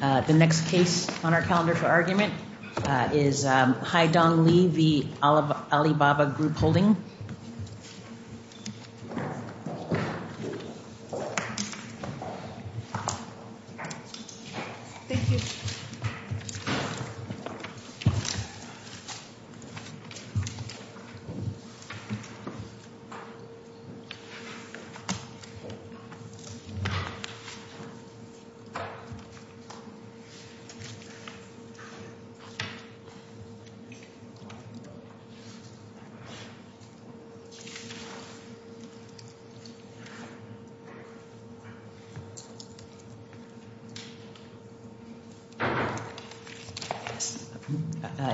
The next case on our calendar for argument is Hai Dong Lee v. Alibaba Group Holding. Thank you.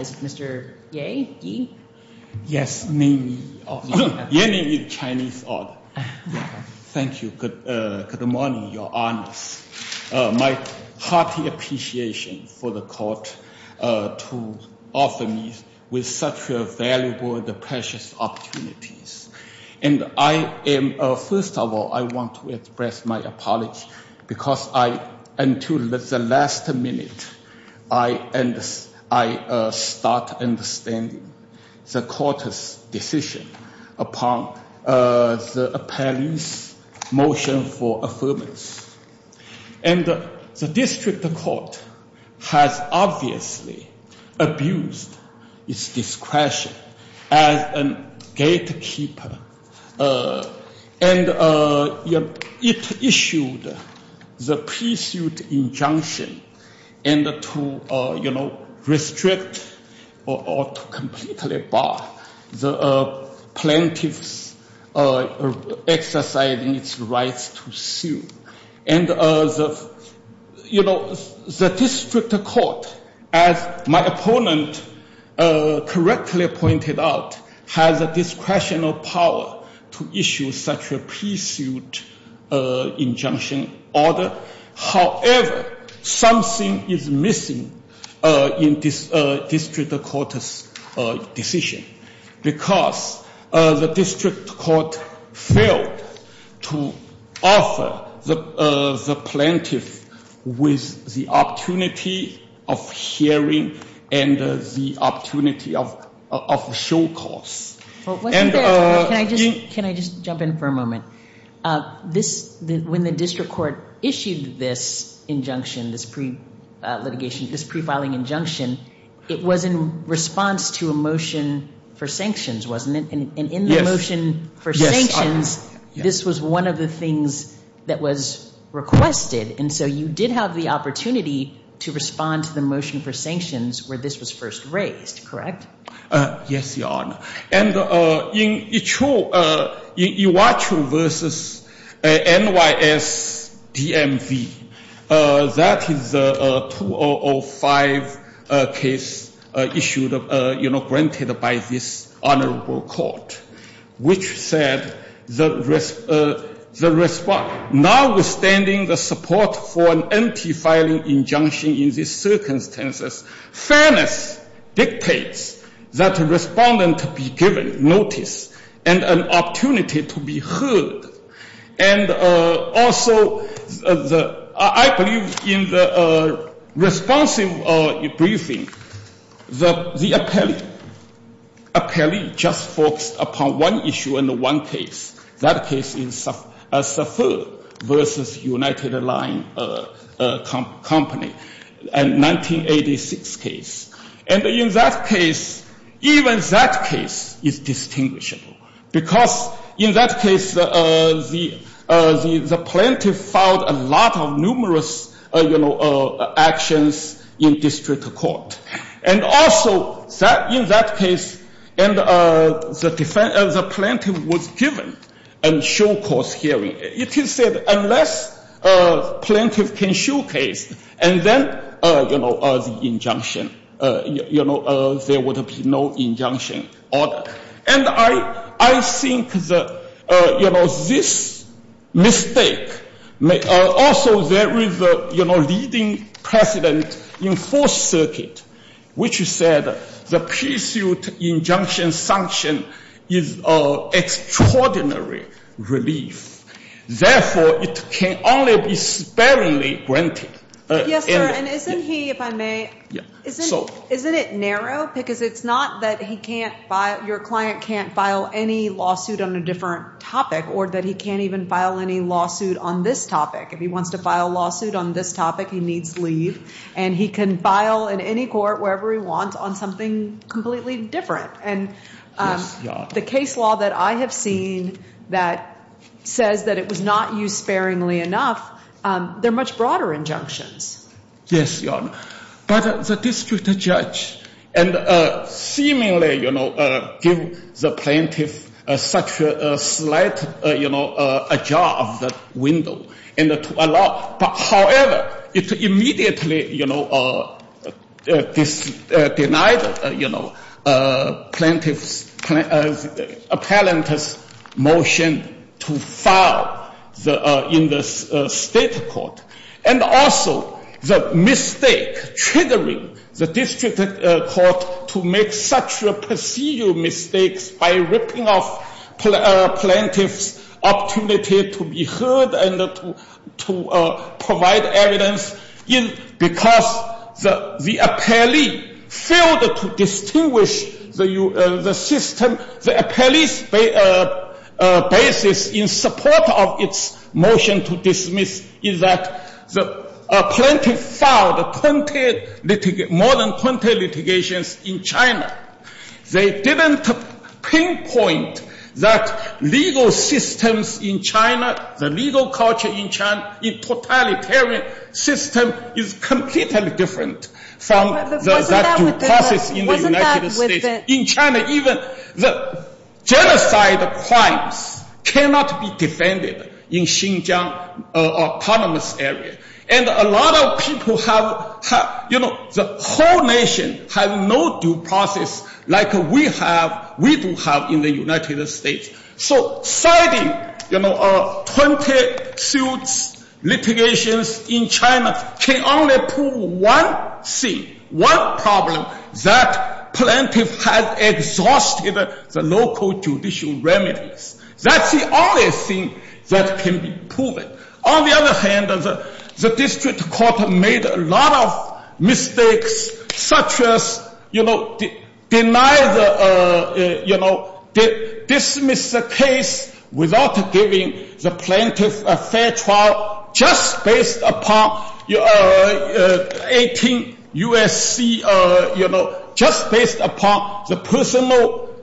Is it Mr. Yeh? Yeh? Yes, name Yeh. Yeh name is Chinese odd. Thank you. Good morning, your honors. My hearty appreciation for the court to offer me with such a valuable and precious opportunities. And first of all, I want to express my apology because until the last minute, I start understanding the court's decision upon the appellee's motion for affirmance. And the district court has obviously abused its discretion as a gatekeeper. And it issued the pre-suit injunction and to restrict or to completely bar the plaintiffs exercising its rights to sue. And the district court, as my opponent correctly pointed out, has a discretion of power to issue such a pre-suit injunction order. However, something is missing in this district court's decision because the district court failed to offer the plaintiff with the opportunity of hearing and the opportunity of show cause. Can I just jump in for a moment? This, when the district court issued this injunction, this pre-litigation, this pre-filing injunction, it was in response to a motion for sanctions, wasn't it? And in the motion for sanctions, this was one of the things that was requested. And so you did have the opportunity to respond to the motion for sanctions where this was first raised, correct? Yes, your honor. And in Iwatu versus NYSDMV, that is a 2005 case issued, granted by this honorable court, which said, now withstanding the support for an empty filing injunction in these circumstances, fairness dictates that a respondent to be given notice and an opportunity to be heard. And also, I believe in the responsive briefing, the appellee just focused upon one issue and one case. That case is SAFIR versus United Line Company. A 1986 case. And in that case, even that case is distinguishable. Because in that case, the plaintiff filed a lot of numerous actions in district court. And also, in that case, the plaintiff was given a show-course hearing. It is said, unless plaintiff can showcase, and then the injunction, there would be no injunction. And I think that this mistake, also there is a leading precedent in Fourth Circuit, which said the pre-suit injunction sanction is of extraordinary relief. Therefore, it can only be sparingly granted. Yes, sir. And isn't he, if I may, isn't it narrow? Because it's not that your client can't file any lawsuit on a different topic, or that he can't even file any lawsuit on this topic. If he wants to file a lawsuit on this topic, he needs leave. And he can file in any court, wherever he wants, on something completely different. And the case law that I have seen that says that it was not used sparingly enough, they're much broader injunctions. Yes, Your Honor. But the district judge seemingly gave the plaintiff such a slight ajar of the window. But however, it immediately denied the plaintiff's appellant's motion to file in the state court. And also, the mistake triggering the district court to make such a perceived mistakes by ripping off plaintiff's opportunity to be heard and to provide evidence, because the appellee failed to distinguish the system. The appellee's basis in support of its motion to dismiss is that the plaintiff filed more than 20 litigations in China. They didn't pinpoint that legal systems in China, the legal culture in China, in totalitarian system is completely different from that due process in the United States. In China, even the genocide crimes cannot be defended in Xinjiang autonomous area. And a lot of people have, you know, the whole nation have no due process like we do have in the United States. So citing 20 suits, litigations in China can only prove one thing, one problem, that plaintiff has exhausted the local judicial remedies. That's the only thing that can be proven. On the other hand, the district court made a lot of mistakes, such as, you know, deny the, you know, dismiss the case without giving the plaintiff a fair trial, just based upon 18 USC, you know, just based upon the personal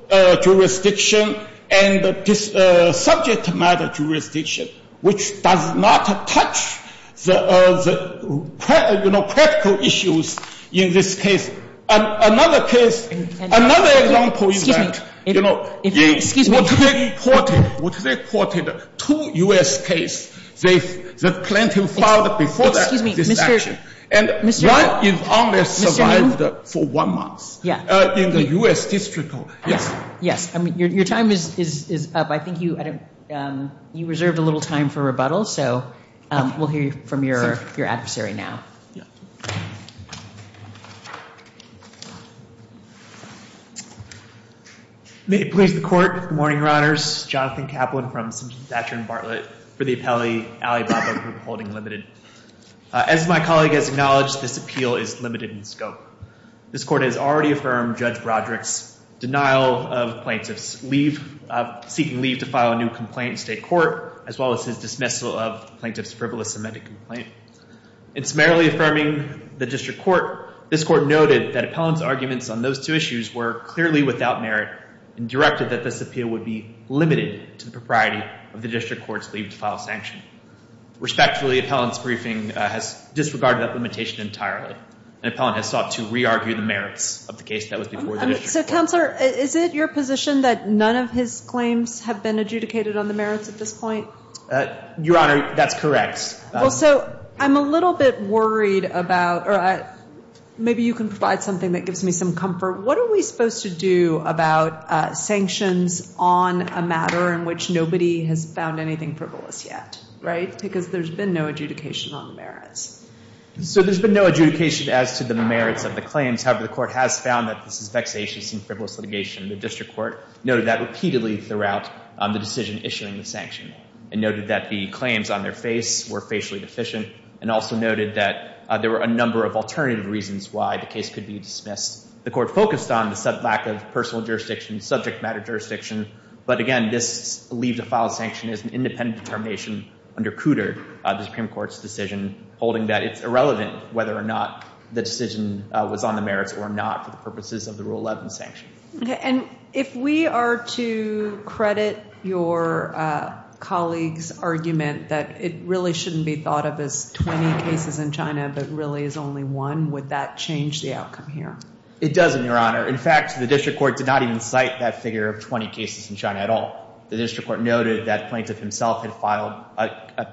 jurisdiction and the subject matter jurisdiction, which does not touch the, you know, critical issues in this case. Another case, another example is that, you know, what they reported, two US case, the plaintiff filed before this action. And one is only survived for one month in the US district court, yes. Yes, I mean, your time is up. I think you reserved a little time for rebuttal. So we'll hear from your adversary now. May it please the court. Good morning, Your Honors. Jonathan Kaplan from Simpson Thatcher and Bartlett for the appellate Alibaba Group Holding Limited. As my colleague has acknowledged, this appeal is limited in scope. This court has already affirmed Judge Broderick's denial of plaintiff's leave, seeking leave to file a new complaint in state court, as well as his dismissal of plaintiff's frivolous amended complaint. In summarily affirming the district court, this court noted that appellant's arguments on those two issues were clearly without merit and directed that this appeal would be limited to the propriety of the district court's leave to file a sanction. Respectfully, appellant's briefing has disregarded that limitation entirely. An appellant has sought to re-argue the merits of the case that was before the district court. So Counselor, is it your position that none of his claims have been adjudicated on the merits at this point? Your Honor, that's correct. Well, so I'm a little bit worried about, or maybe you can provide something that gives me some comfort. What are we supposed to do about sanctions on a matter in which nobody has found anything frivolous yet? Because there's been no adjudication on the merits. So there's been no adjudication as to the merits of the claims. However, the court has found that this is vexatious and frivolous litigation. The district court noted that repeatedly throughout the decision issuing the sanction and noted that the claims on their face were facially deficient and also noted that there were a number of alternative reasons why the case could be dismissed. The court focused on the lack of personal jurisdiction, subject matter jurisdiction. But again, this leave to file a sanction is an independent determination under Cooter, the Supreme Court's decision, holding that it's irrelevant whether or not the decision was on the merits or not for the purposes of the Rule 11 sanction. And if we are to credit your colleague's argument that it really shouldn't be thought of as 20 cases in China but really is only one, would that change the outcome here? It doesn't, Your Honor. In fact, the district court did not even cite that figure of 20 cases in China at all. The district court noted that Plaintiff himself had filed,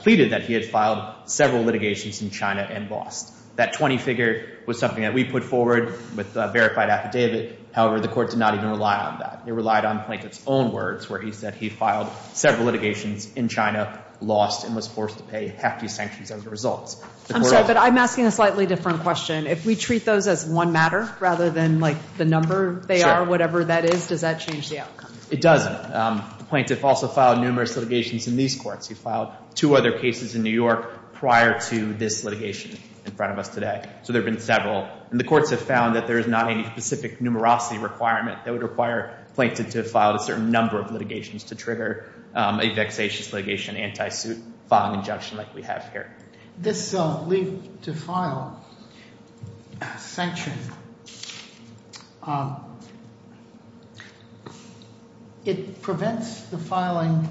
pleaded that he had filed several litigations in China and lost. That 20 figure was something that we put forward with verified affidavit. However, the court did not even rely on that. It relied on Plaintiff's own words, where he said he filed several litigations in China, lost, and was forced to pay hefty sanctions as a result. I'm sorry, but I'm asking a slightly different question. If we treat those as one matter rather than the number they are, whatever that is, does that change the outcome? It doesn't. Plaintiff also filed numerous litigations in these courts. He filed two other cases in New York prior to this litigation in front of us today. So there have been several. And the courts have found that there is not any specific numerosity requirement that would require Plaintiff to have filed a certain number of litigations to trigger a vexatious litigation anti-suit filing injunction like we have here. This leave to file sanction, it prevents the filing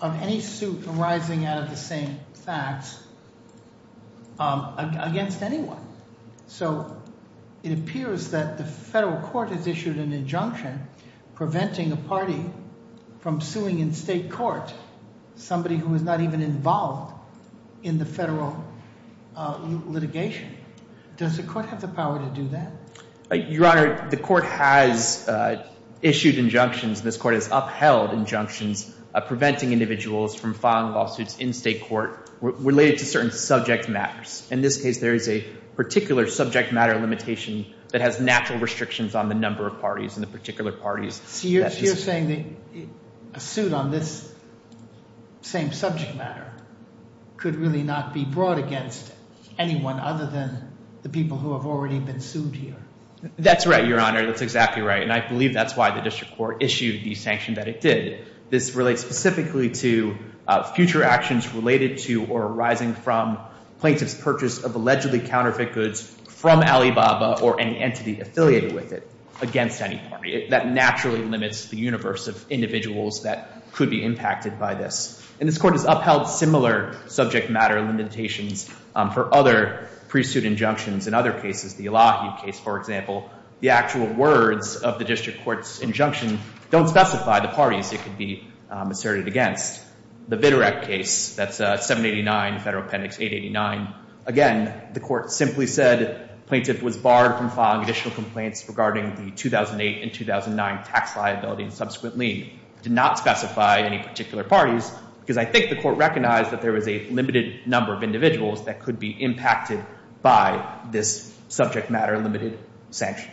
of any suit arising out of the same facts against anyone. So it appears that the federal court has issued an injunction preventing a party from suing in state court somebody who is not even involved in the federal litigation. Does the court have the power to do that? Your Honor, the court has issued injunctions. This court has upheld injunctions preventing individuals from filing lawsuits in state court related to certain subject matters. In this case, there is a particular subject matter limitation that has natural restrictions on the number of parties and the particular parties. So you're saying that a suit on this same subject matter could really not be brought against anyone other than the people who have already been sued here? That's right, Your Honor. That's exactly right. And I believe that's why the district court issued the sanction that it did. This relates specifically to future actions related to or arising from plaintiff's purchase of allegedly counterfeit goods from Alibaba or any entity affiliated with it against any party. That naturally limits the universe of individuals that could be impacted by this. And this court has upheld similar subject matter limitations for other pre-suit injunctions. In other cases, the Elahi case, for example, the actual words of the district court's injunction don't specify the parties it could be asserted against. The Viterec case, that's 789 Federal Appendix 889, again, the court simply said plaintiff was barred from filing additional complaints regarding the 2008 and 2009 tax liability and subsequent lien. Did not specify any particular parties because I think the court recognized that there was a limited number of individuals that could be impacted by this sanction.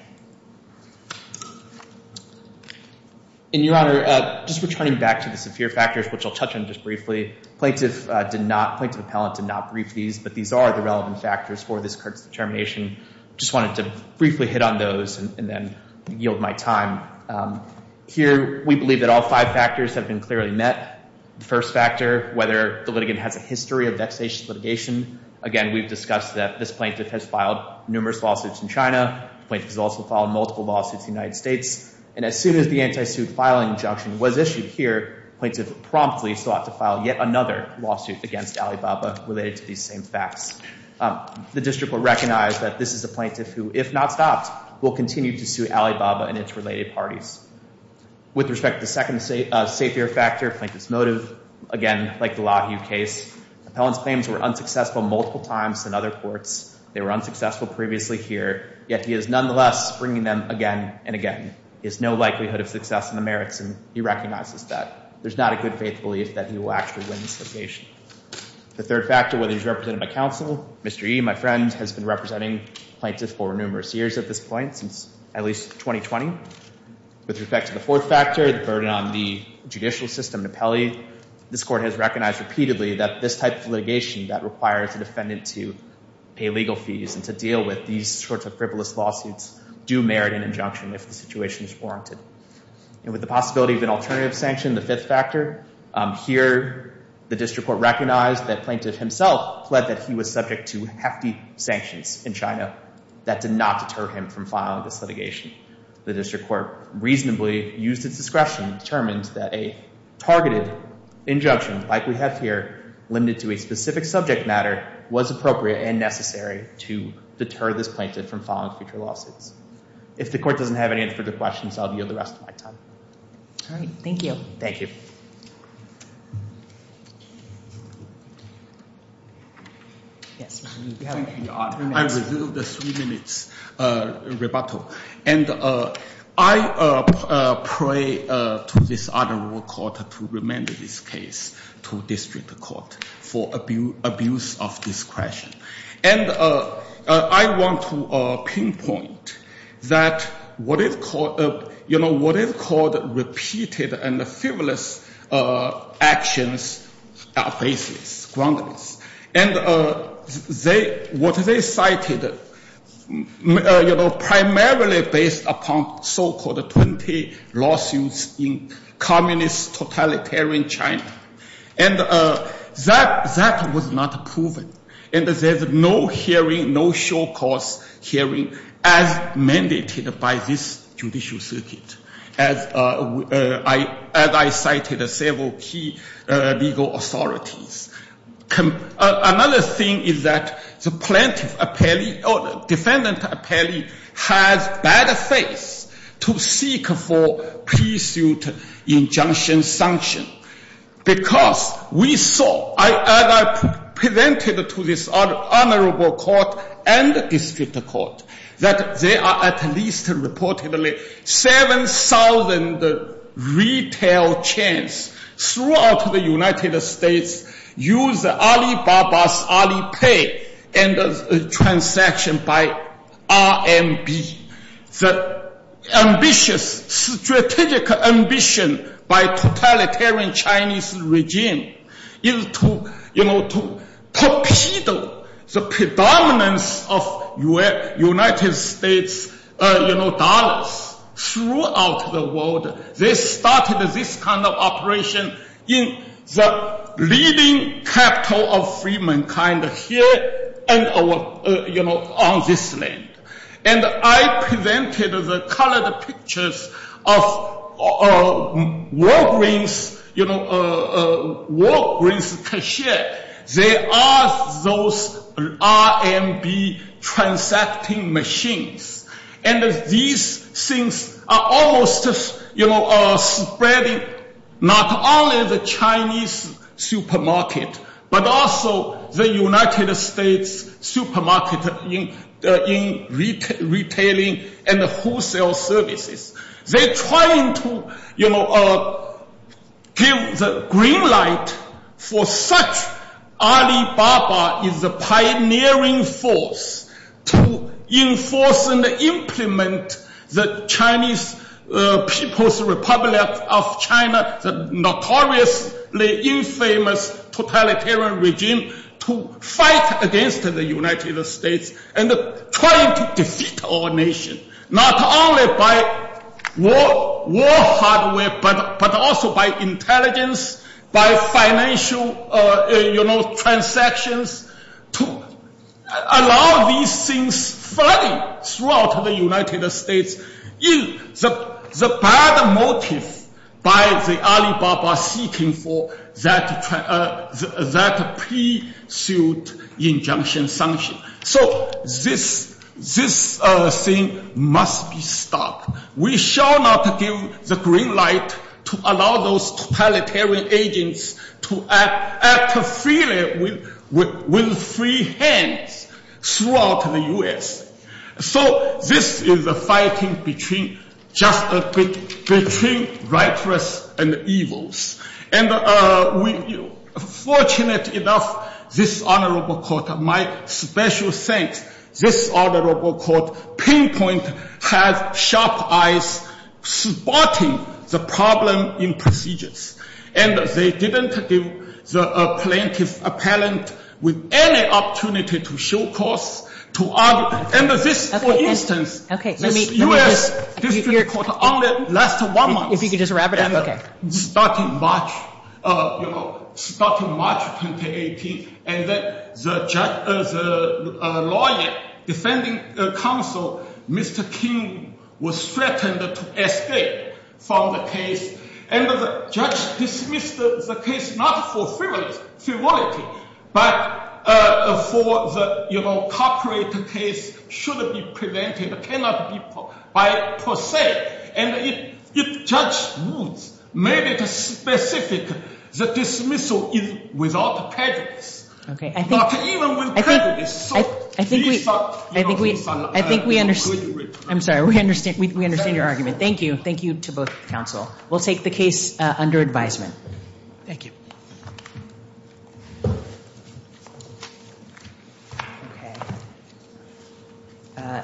In your honor, just returning back to the severe factors, which I'll touch on just briefly, plaintiff did not, plaintiff appellant did not brief these, but these are the relevant factors for this court's determination. Just wanted to briefly hit on those and then yield my time. Here, we believe that all five factors have been clearly met. The first factor, whether the litigant has a history of vexatious litigation. Again, we've discussed that this plaintiff has filed numerous lawsuits in China. Plaintiff has also filed multiple lawsuits in the United States. And as soon as the anti-suit filing injunction was issued here, plaintiff promptly sought to file yet another lawsuit against Alibaba related to these same facts. The district will recognize that this is a plaintiff who, if not stopped, will continue to sue Alibaba and its related parties. With respect to the second safe air factor, plaintiff's motive, again, like the Lahue case, appellant's claims were unsuccessful multiple times than other courts. They were unsuccessful previously here, yet he is nonetheless bringing them again and again. There's no likelihood of success in the merits, and he recognizes that. There's not a good faith belief that he will actually win this litigation. The third factor, whether he's represented by counsel. Mr. Yee, my friend, has been representing plaintiff for numerous years at this point, since at least 2020. With respect to the fourth factor, the burden on the judicial system and appellee, this court has recognized repeatedly that this type of litigation that requires a defendant to pay legal fees and to deal with these sorts of frivolous lawsuits do merit an injunction if the situation is warranted. And with the possibility of an alternative sanction, the fifth factor, here, the district court recognized that plaintiff himself pled that he was subject to hefty sanctions in China. That did not deter him from filing this litigation. The district court reasonably used its discretion to determine that a targeted injunction, like we have here, limited to a specific subject matter, was appropriate and necessary to deter this plaintiff from filing future lawsuits. If the court doesn't have any further questions, I'll give the rest of my time. All right. Thank you. Thank you. Yes, Mr. Yee, you have three minutes. I will do the three minutes rebuttal. And I pray to this honorable court to remand this case to district court for abuse of discretion. And I want to pinpoint that what is called repeated and frivolous actions are baseless, groundless. And what they cited, primarily based upon so-called 20 lawsuits in communist totalitarian China. And that was not proven. And there's no hearing, no short-course hearing, as mandated by this judicial circuit, as I cited several key legal authorities. Another thing is that the plaintiff apparently, or defendant apparently, has bad faith to seek for pre-suit injunction sanction. Because we saw, as I presented to this honorable court and district court, that there are at least, reportedly, 7,000 retail chains throughout the United States use Alibaba's Alipay transaction by RMB. The ambitious, strategic ambition by totalitarian Chinese regime is to torpedo the predominance of United States dollars throughout the world. They started this kind of operation in the leading capital of free mankind here on this land. And I presented the colored pictures of Walgreens cashier. They are those RMB transacting machines. And these things are almost spreading not only the Chinese supermarket, but also the United States supermarket in retailing and wholesale services. They're trying to give the green light for such Alibaba is a pioneering force to enforce and implement the Chinese People's Republic of China, the notoriously infamous totalitarian regime, to fight against the United States and trying to defeat our nation, not only by war hardware, but also by intelligence, by financial transactions, to allow these things flooding throughout the United States. The bad motive by the Alibaba seeking for that pre-sued injunction sanction. So this thing must be stopped. We shall not give the green light to allow those totalitarian agents to act freely with free hands throughout the US. So this is a fighting between righteous and evils. And fortunate enough, this honorable court, my special thanks, this honorable court, pinpoint has sharp eyes supporting the problem in procedures. And they didn't give the plaintiff appellant with any opportunity to show course, to argue. And this, for instance, this US district court only last one month. If you could just wrap it up, OK. Starting March, you know, starting March 2018. And then the lawyer defending counsel, Mr. King, was threatened to escape from the case. And the judge dismissed the case not for frivolity, but for the corporate case should be prevented, cannot be by per se. And the judge made it specific that dismissal is without prejudice. OK, I think we understand your argument. Thank you. Thank you to both counsel. We'll take the case under advisement. Thank you.